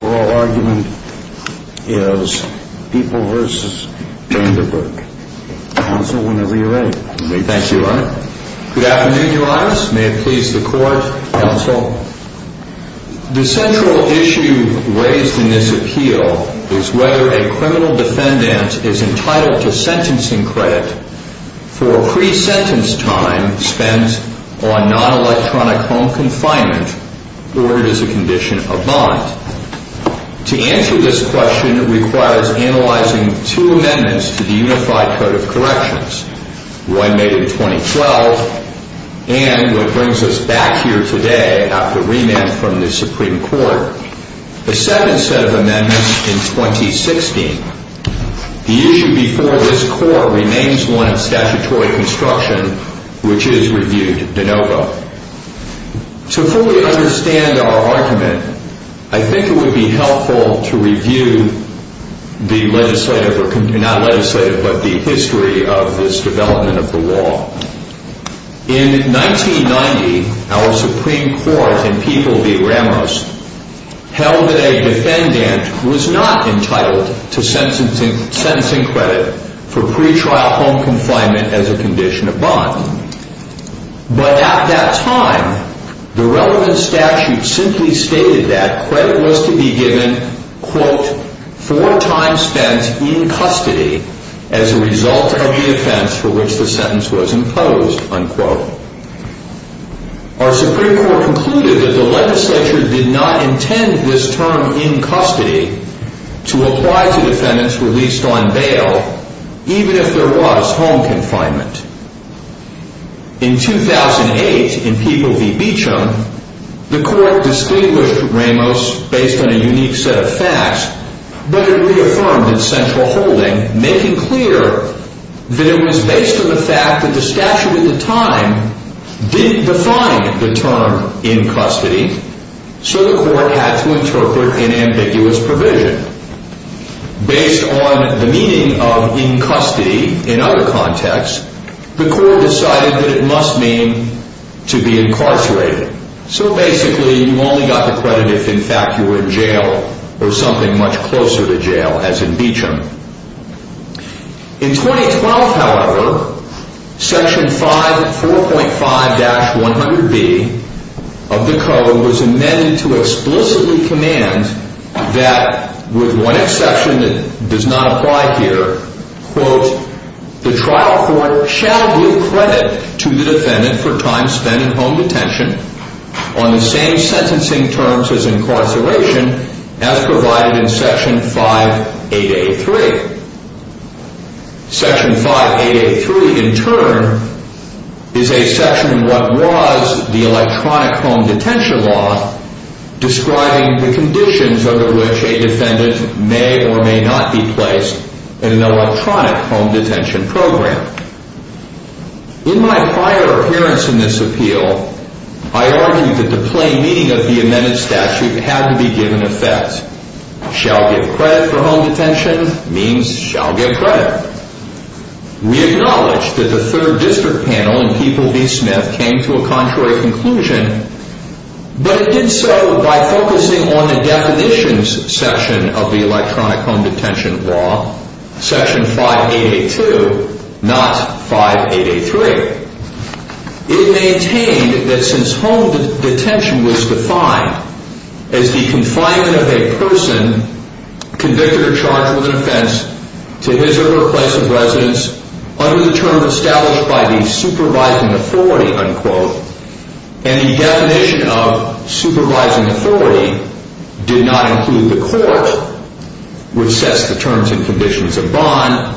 The central issue raised in this appeal is whether a criminal defendant is entitled to sentencing credit for pre-sentence time spent on non-electronic home confinement or it is not. To answer this question requires analyzing two amendments to the Unified Code of Corrections, one made in 2012 and the second set of amendments in 2016. The issue before this Court remains one of statutory construction, which is reviewed de novo. To fully understand our argument, I think it would be helpful to review the history of this development of the law. In 1990, our Supreme Court in People v. Ramos held that a defendant who was not entitled to sentencing credit for pre-trial home confinement as a condition of bond. But at that time, the relevant statute simply stated that credit was to be given for time spent in custody as a result of the offense for which the sentence was imposed. Our Supreme Court concluded that the legislature did not intend this term in custody to apply to defendants released on bail, even if there was home confinement. In 2008, in People v. Beauchamp, the Court distinguished Ramos based on a unique set of facts, but it reaffirmed in central holding, making clear that it was based on the fact that the statute at the time did not define the term in custody, so the Court had to interpret an ambiguous provision. Based on the meaning of in custody in other contexts, the Court decided that it must mean to be incarcerated. So basically, you only got the credit if, in fact, you were in jail or something much of the code was amended to explicitly command that, with one exception that does not apply here, quote, the trial court shall give credit to the defendant for time spent in home detention on the same sentencing terms as incarceration as provided in Section 5883. Section 5883 in turn is a section in what was the electronic home detention law describing the conditions under which a defendant may or may not be placed in an electronic home detention program. In my prior appearance in this appeal, I argued that the plain meaning of the amended statute had to be given effect. Shall give credit for home detention means shall give credit. We acknowledge that the third district panel in People v. Smith came to a contrary conclusion, but it did so by focusing on the definitions section of the electronic home detention law, Section 5882, not 5883. It maintained that since home detention was defined as the confinement of a person convicted or charged with an offense to his or her place of residence under the term established by the supervising authority, unquote, and the definition of supervising authority did not include the court, which sets the terms and conditions of bond,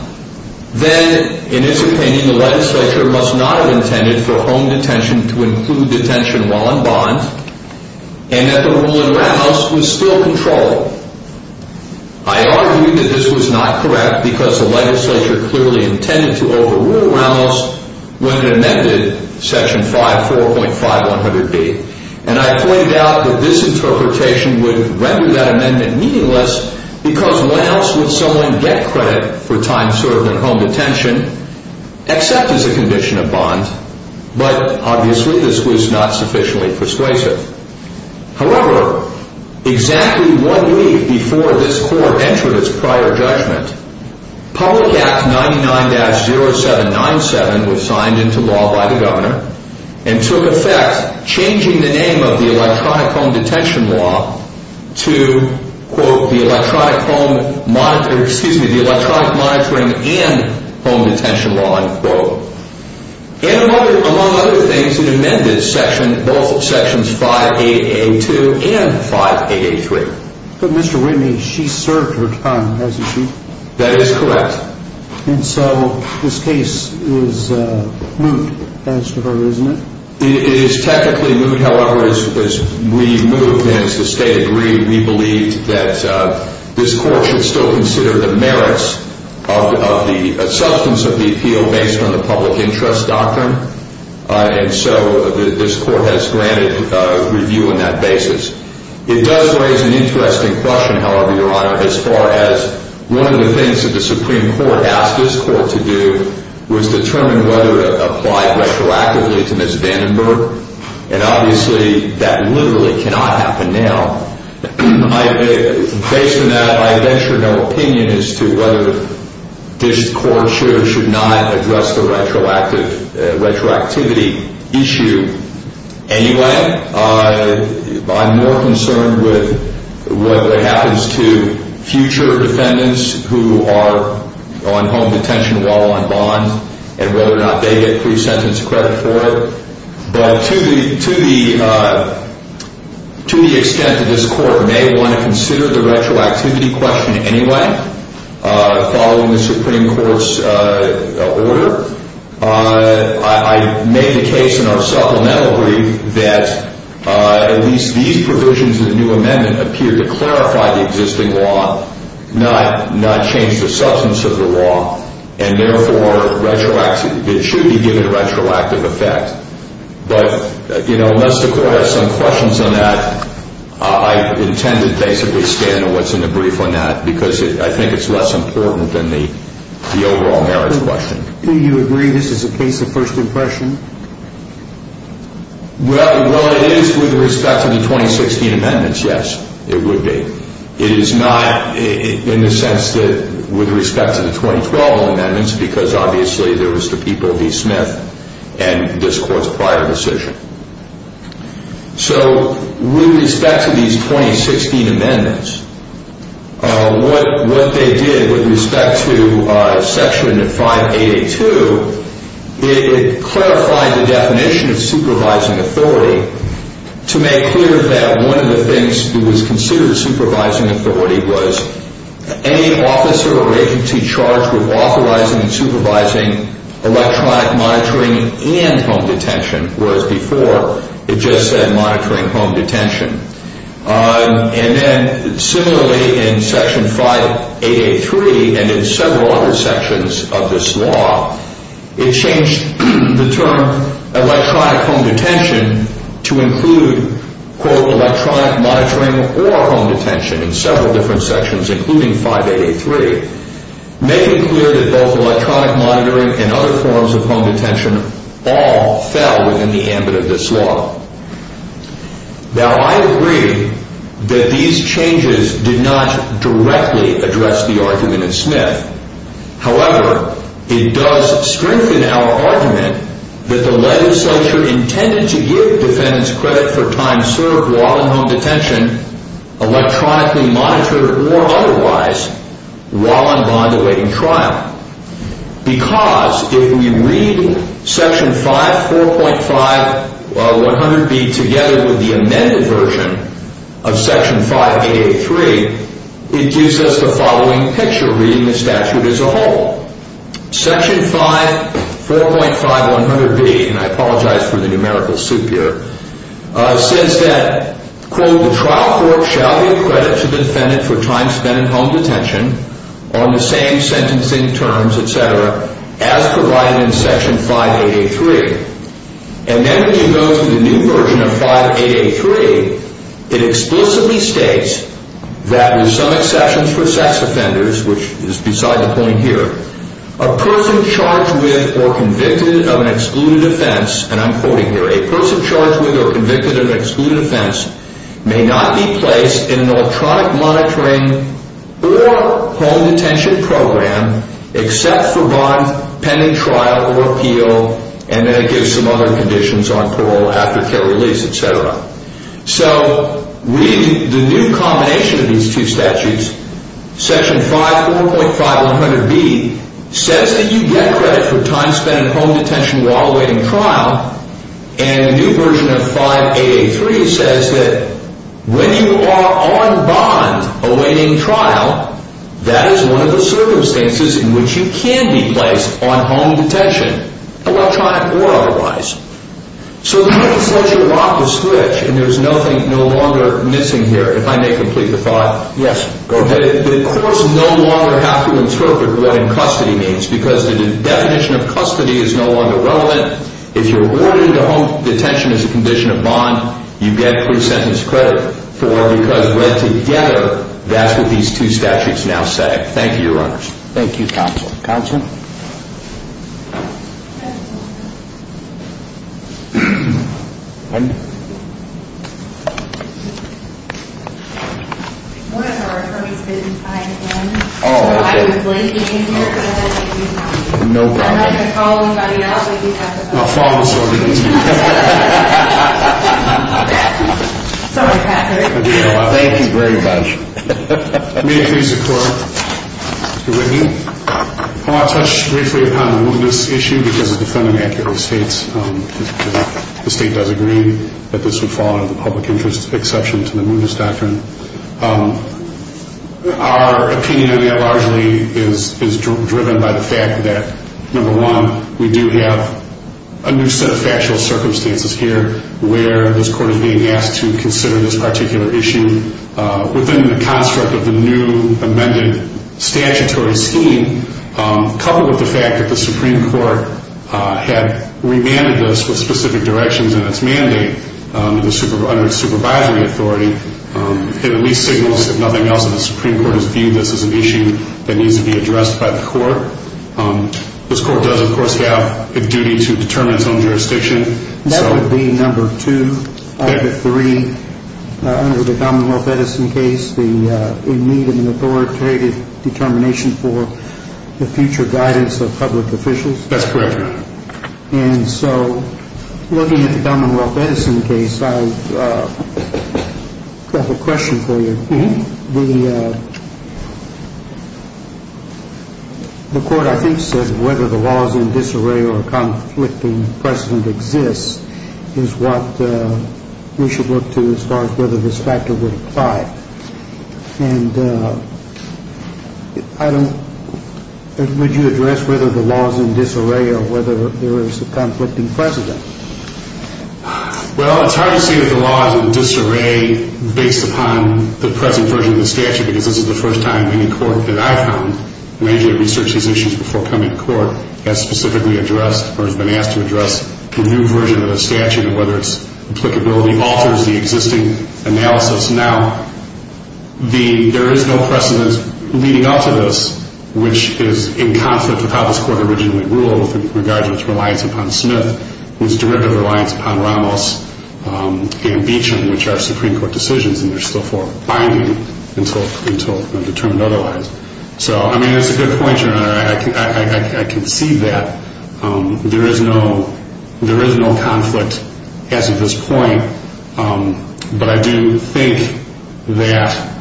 then in its opinion, the legislature must not have intended for home detention to include detention while in bond and that the rule in Ramos was still controlled. I argued that this was not correct because the legislature clearly intended to overrule Ramos when it amended Section 5, 4.5100B, and I pointed out that this interpretation would render that amendment meaningless because when else would someone get credit for time served in home detention except as a condition of bond, but obviously this was not sufficiently persuasive. However, exactly one week before this court entered its prior judgment, Public Act 99-0797 was signed into law by the Governor and took effect, changing the name of the electronic home detention law to, quote, the Home Detention Law. And among other things, it amended both Sections 5AA2 and 5AA3. But Mr. Whitney, she served her time, hasn't she? That is correct. And so this case is moot as to her, isn't it? It is technically moot. However, as we move and as the State agreed, we believe that this is a substance of the appeal based on the public interest doctrine, and so this court has granted review on that basis. It does raise an interesting question, however, Your Honor, as far as one of the things that the Supreme Court asked this court to do was determine whether to apply retroactively to Ms. Vandenberg, and obviously that literally cannot happen right now. Based on that, I venture no opinion as to whether this court should or should not address the retroactivity issue anyway. I'm more concerned with what happens to future defendants who are on home detention while on bond and whether or not they get pre-sentence credit for it. But to the extent that this court may want to consider the retroactivity question anyway, following the Supreme Court's order, I made the case in our supplemental brief that at least these provisions of the new amendment appear to clarify the existing law, not change the substance of the law, and therefore it should be given a retroactive effect. But, you know, unless the court has some questions on that, I intend to basically stand on what's in the brief on that because I think it's less important than the overall merits question. Do you agree this is a case of first impression? Well, it is with respect to the 2016 amendments, yes, it would be. It is not in the sense that with respect to the 2012 amendments because obviously there was the people of E. Smith and this court's prior decision. So with respect to these 2016 amendments, what they did with respect to the 2016 amendments was they made it clear that one of the things that was considered supervising authority was any officer or agency charged with authorizing and supervising electronic monitoring and home detention, whereas before it just said monitoring home detention. And then similarly in Section 5883 and in several other sections of this law, it changed the term electronic home detention to include, quote, electronic monitoring or home detention in several different sections, including 5883, making clear that both electronic monitoring and other forms of home detention all fell within the ambit of this law. Now, I agree that these changes did not directly address the argument in Smith. However, it does strengthen our argument that the legislature intended to give defendants credit for time served while in home detention electronically monitored or otherwise while in bond-awaiting trial because if we read Section 5, 4.5, 100B together with the amended version of Section 5883, it gives us the following picture reading the statute as a whole. Section 5, 4.5, 100B, and I apologize for the numerical soup here, says that, quote, the trial court shall give credit to the defendant for time spent in home detention on the same sentencing terms, et cetera, as provided in Section 5883. And then when you go to the new version of 5883, it explicitly states that with some exceptions for sex offenders, which is beside the point here, a person charged with or convicted of an excluded offense, and I'm quoting here, a person charged with or convicted of an excluded offense may not be placed in an electronic monitoring or home detention program except for bond-pending trial or appeal, and then so the new combination of these two statutes, Section 5, 4.5, 100B, says that you get credit for time spent in home detention while awaiting trial, and the new version of 5883 says that when you are on bond-awaiting trial, that is one of the circumstances in which you can be placed on home detention, electronic or otherwise. So then it says you lock the switch, and there's nothing no longer missing here, if I may complete the thought. Yes, go ahead. The courts no longer have to interpret what in custody means, because the definition of custody is no longer relevant. If you're awarded a home detention as a condition of bond, you get pre-sentence credit for because read together, that's what these two statutes now say. Thank you, Your Honors. Thank you, Counsel. Counsel? Pardon? One of our attorneys said I am in, so I am blanking in here, but I'd like you to have the phone. No problem. I'm not going to call anybody else, but you have the phone. I'll follow this order. Sorry, Patrick. Thank you very much. May it please the Court, Mr. Whitney. Well, I'll touch briefly upon the mootness issue, because the defendant actually states that the state does agree that this would fall under the public interest exception to the mootness doctrine. Our opinion on that largely is driven by the fact that, number one, we do have a new set of factual circumstances here where this Court is being asked to consider this particular issue within the construct of the new amended statutory scheme, coupled with the fact that the Supreme Court had remanded this with specific directions in its mandate under its supervisory authority. It at least signals, if nothing else, that the Supreme Court has viewed this as an issue that needs to be addressed by the Court. This Court does, of course, have a duty to determine its own jurisdiction. That would be number two out of the three under the Commonwealth Edison case, the need of an authoritative determination for the future guidance of public officials. That's correct, Your Honor. And so looking at the Commonwealth Edison case, I have a question for you. The Court, I think, says whether the laws in disarray or conflicting precedent exists is what we should look to as far as whether this factor would apply. And I don't – would you address whether the laws in disarray or whether there is a conflicting precedent? Well, it's hard to say that the laws in disarray based upon the present version of the statute because this is the first time any court that I've found, and I usually research these issues before coming to court, has specifically addressed or has been asked to address the new version of the statute and whether its applicability alters the existing analysis. Now, the – there is no precedent leading up to this which is in conflict with how this court originally ruled with regard to its reliance upon Smith, whose derivative reliance upon Ramos and Beecham, which are Supreme Court decisions and they're still forefinding until determined otherwise. So, I mean, it's a good point, Your Honor. I can see that. There is no – there is no conflict as of this point. But I do think that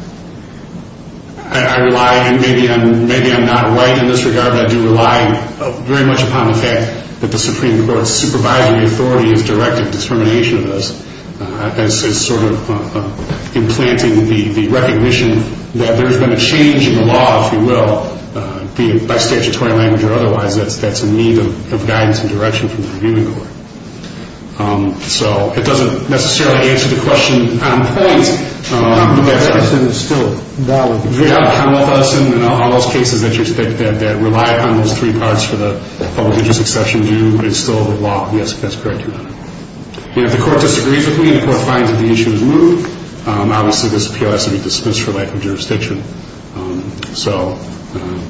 I rely – and maybe I'm – maybe I'm not right in this regard, but I do rely very much upon the fact that the Supreme Court's supervisory authority has directed determination of this as sort of implanting the recognition that there has been a change in the law, if you will, be it by statutory language or otherwise, that's a need of guidance and direction from the reviewing court. So, it doesn't necessarily answer the question on points. The precedent is still valid. If you're going to come with us in all those cases that you're – that rely upon those three parts for the public interest exception due, it's still the law. Yes, that's correct, Your Honor. If the court disagrees with me and the court finds that the issue is moved, obviously this appeal has to be dismissed for lack of jurisdiction. So –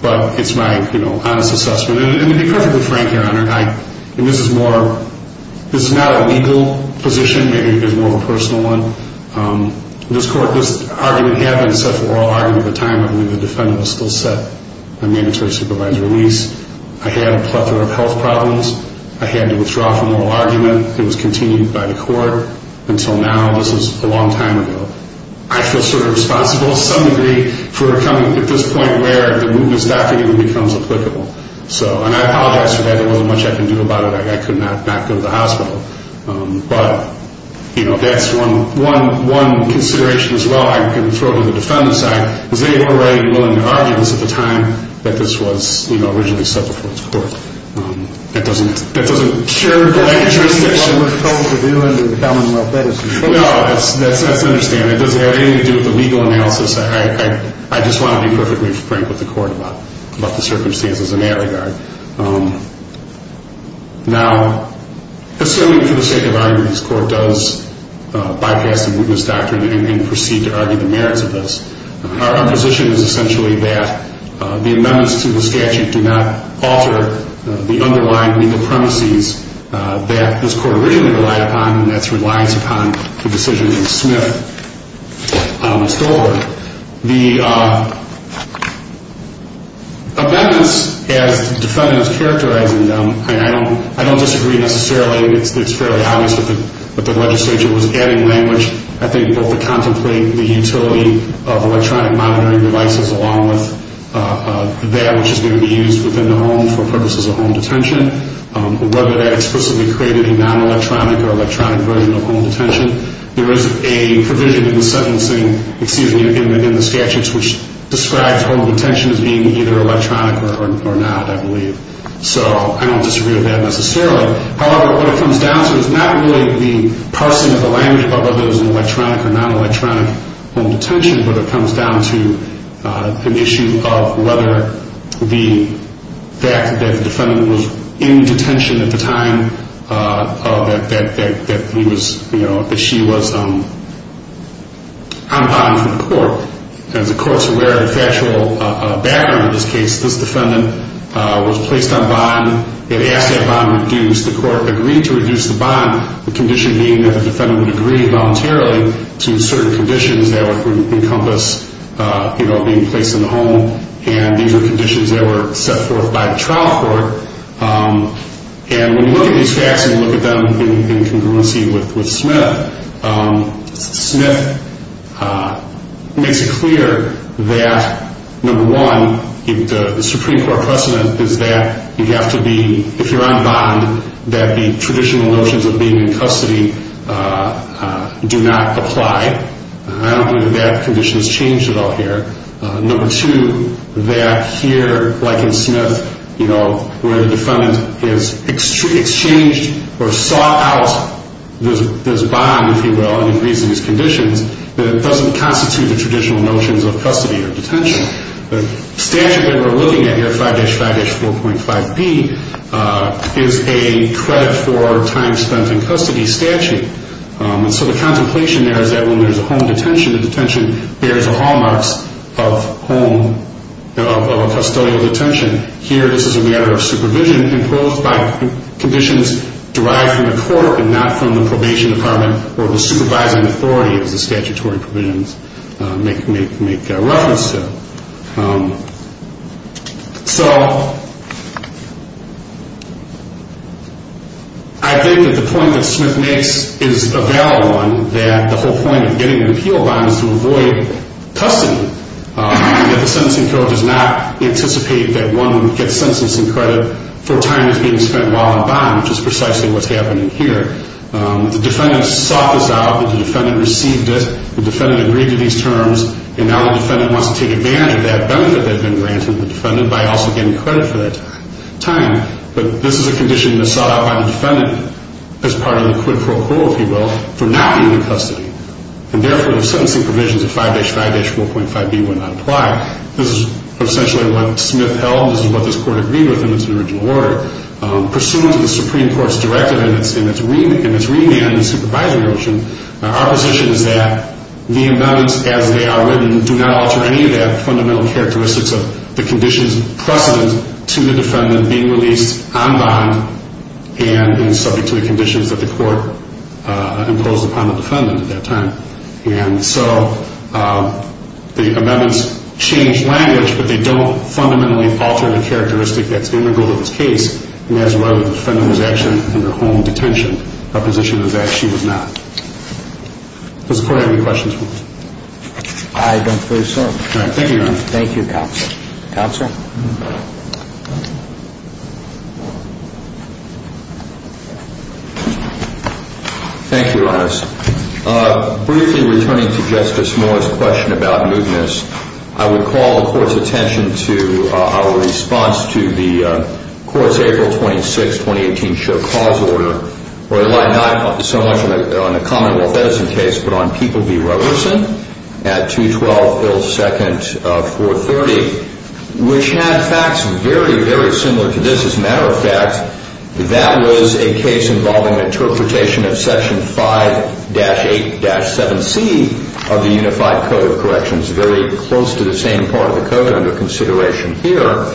but it's my, you know, honest assessment. And to be perfectly frank, Your Honor, I – and this is more – this is not a legal position. Maybe it's more of a personal one. This court – this argument had been set for oral argument at the time when the defendant was still set on mandatory supervisor release. I had a plethora of health problems. I had to withdraw from oral argument. It was continued by the court until now. This was a long time ago. I feel sort of responsible, to some degree, for coming at this point where the movements document becomes applicable. So – and I apologize for that. There wasn't much I could do about it. I could not go to the hospital. But, you know, that's one consideration as well. I can throw it to the defendant's side. They were writing oral arguments at the time that this was, you know, originally set before this court. That doesn't – that doesn't share the lack of jurisdiction. It doesn't have anything to do with what we're supposed to do under the Commonwealth medicine. No, that's – that's not to understand. It doesn't have anything to do with the legal analysis. I just want to be perfectly frank with the court about the circumstances in that regard. Now, necessarily for the sake of argument, this court does bypass the movements doctrine and proceed to argue the merits of this. Our position is essentially that the amendments to the statute do not alter the underlying legal premises that this court originally relied upon, and that's reliance upon the decision of Smith and Stover. The amendments, as the defendant is characterizing them, I mean, I don't – I don't disagree necessarily. It's fairly obvious that the legislature was adding language, I think, both to contemplate the utility of electronic monitoring devices along with that which is going to be used within the home for purposes of home detention, whether that explicitly created a non-electronic or electronic version of home detention. There is a provision in the sentencing – excuse me, in the statutes which describes home detention as being either electronic or not, I believe. So I don't disagree with that necessarily. However, what it comes down to is not really the parsing of the language about whether it was an electronic or non-electronic home detention, but it comes down to an issue of the fact that the defendant was in detention at the time that he was, you know, that she was on bond from the court. As the court's aware of the factual background of this case, this defendant was placed on bond. It asked that bond reduced. The court agreed to reduce the bond, the condition being that the defendant would agree voluntarily to certain conditions that would encompass, you know, being placed in the home. And these were conditions that were set forth by the trial court. And when you look at these facts and you look at them in congruency with Smith, Smith makes it clear that, number one, the Supreme Court precedent is that you have to be, if you're on bond, that the traditional notions of being in custody do not apply. I don't believe that that condition has changed at all here. Number two, that here, like in Smith, you know, where the defendant has exchanged or sought out this bond, if you will, and agrees to these conditions, that it doesn't constitute the traditional notions of custody or detention. The statute that we're looking at here, 5-5-4.5b, is a credit for time spent in custody statute. And so the contemplation there is that when there's a home detention, the detention bears the hallmarks of home, of custodial detention. Here this is a matter of supervision imposed by conditions derived from the court and not from the probation department or the supervising authority, as the statutory provisions make reference to. So I think that the point that Smith makes is a valid one, that the whole point of getting an appeal bond is to avoid custody, and that the sentencing code does not anticipate that one would get sentencing credit for time that's being spent while on bond, which is precisely what's happening here. The defendant sought this out, the defendant received it, the defendant agreed to these terms, and now the defendant wants to take advantage of that benefit that had been granted to the defendant by also getting credit for that time. But this is a condition that's sought out by the defendant as part of the quid pro quo, if you will, for not being in custody. And therefore, the sentencing provisions of 5-5-4.5b will not apply. This is essentially what Smith held, this is what this court agreed with, and it's an original order. Pursuant to the Supreme Court's directive in its remand and supervisory notion, our position is that the amendments as they are written do not alter any of the fundamental characteristics of the conditions precedent to the defendant being released on bond and subject to the conditions that the court imposed upon the defendant at that time. And so the amendments change language, but they don't fundamentally alter the characteristic that's integral to this case, and that's why the defendant was actually in her home detention. Our position is that she was not. Does the court have any questions for me? I don't believe so. Thank you, Your Honor. Thank you, Counsel. Counsel? Thank you, Your Honor. Briefly returning to Justice Mueller's question about mootness, I would call the court's attention to our response to the court's April 26, 2018, show cause order. We rely not so much on the Commonwealth Edison case, but on People v. Roberson at 212 Hill 2nd 430, which had facts very, very similar to this. As a matter of fact, that was a case involving interpretation of Section 5-8-7C of the Unified Code of Corrections, very close to the same part of the code under consideration here.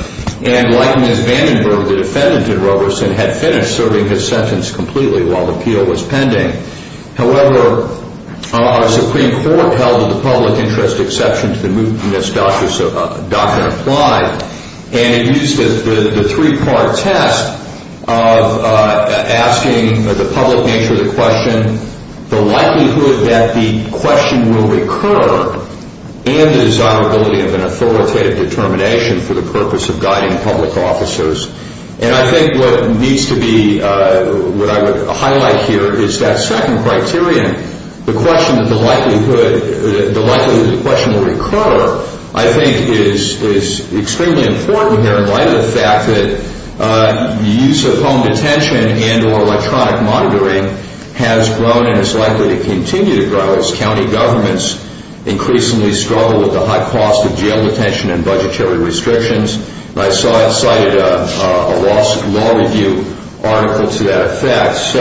And like Ms. Vandenberg, the defendant in Roberson had finished serving his sentence completely while the appeal was pending. However, our Supreme Court held that the public interest exception to the mootness doctrine applied, and it used the three-part test of asking the public nature of the question, the likelihood that the question will recur, and the desirability of an authoritative determination for the purpose of guiding public officers. And I think what needs to be, what I would highlight here is that second criterion, the question of the likelihood that the question will recur, I think is extremely important here in light of the fact that the use of home detention and or electronic monitoring has grown and is likely to continue to grow as county governments increasingly struggle with the high cost of jail detention and budgetary restrictions. And I cited a law review article to that effect,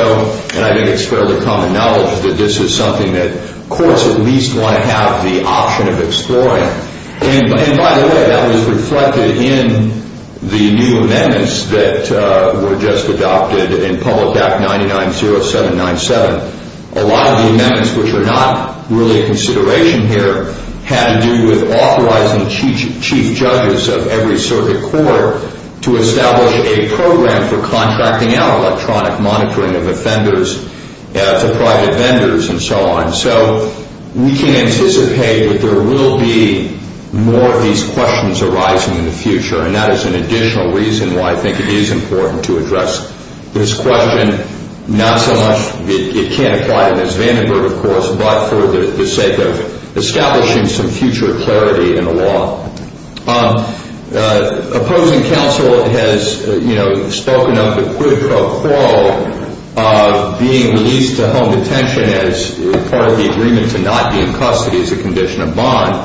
and I think it's fairly common knowledge that this is something that courts at least want to have the option of exploring. And by the way, that was reflected in the new amendments that were just adopted in Public Act 990797. A lot of the amendments which are not really a consideration here had to do with authorizing chief judges of every circuit court to establish a program for contracting out electronic monitoring of offenders to private vendors and so on. So we can anticipate that there will be more of these questions arising in the future, and that is an additional reason why I think it is important to address this question. And not so much it can't apply to Ms. Vandenberg, of course, but for the sake of establishing some future clarity in the law. Opposing counsel has spoken of the quid pro quo of being released to home detention as part of the agreement to not be in custody as a condition of bond.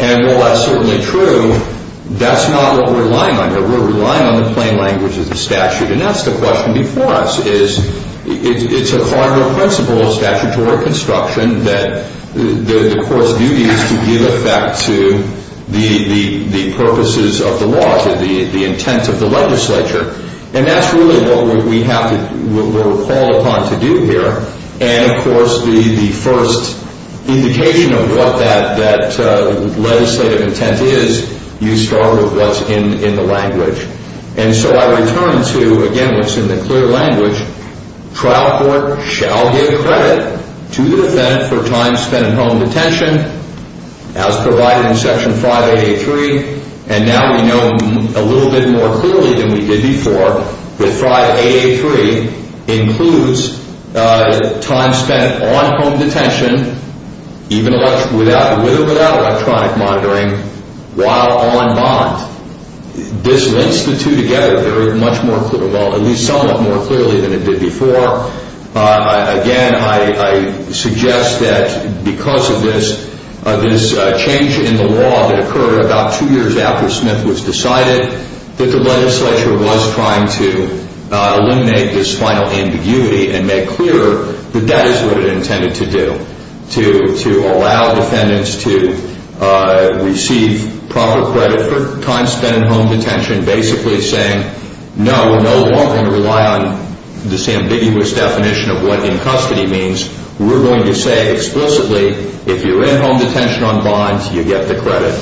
And while that's certainly true, that's not what we're relying on here. We're relying on the plain language of the statute, and that's the question before us. It's a hardware principle of statutory construction that the court's duty is to give effect to the purposes of the law, to the intent of the legislature, and that's really what we're called upon to do here. And, of course, the first indication of what that legislative intent is, you start with what's in the language. And so I return to, again, what's in the clear language. Trial court shall give credit to the defendant for time spent in home detention as provided in Section 5AA3. And now we know a little bit more clearly than we did before that 5AA3 includes time spent on home detention, even with or without electronic monitoring, while on bond. This links the two together very much more clearly, well, at least somewhat more clearly than it did before. Again, I suggest that because of this, this change in the law that occurred about two years after Smith was decided, that the legislature was trying to eliminate this final ambiguity and make clear that that is what it intended to do, to allow defendants to receive proper credit for time spent in home detention, basically saying, no, we're no longer going to rely on this ambiguous definition of what in custody means. We're going to say explicitly, if you're in home detention on bonds, you get the credit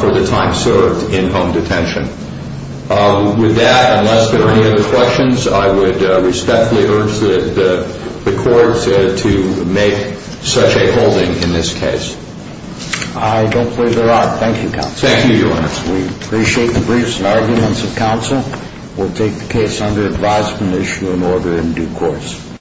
for the time served in home detention. With that, unless there are any other questions, I would respectfully urge the court to make such a holding in this case. I don't believe there are. Thank you, counsel. Thank you, Your Honor. We appreciate the briefs and arguments of counsel. We'll take the case under advisement, issue an order in due course.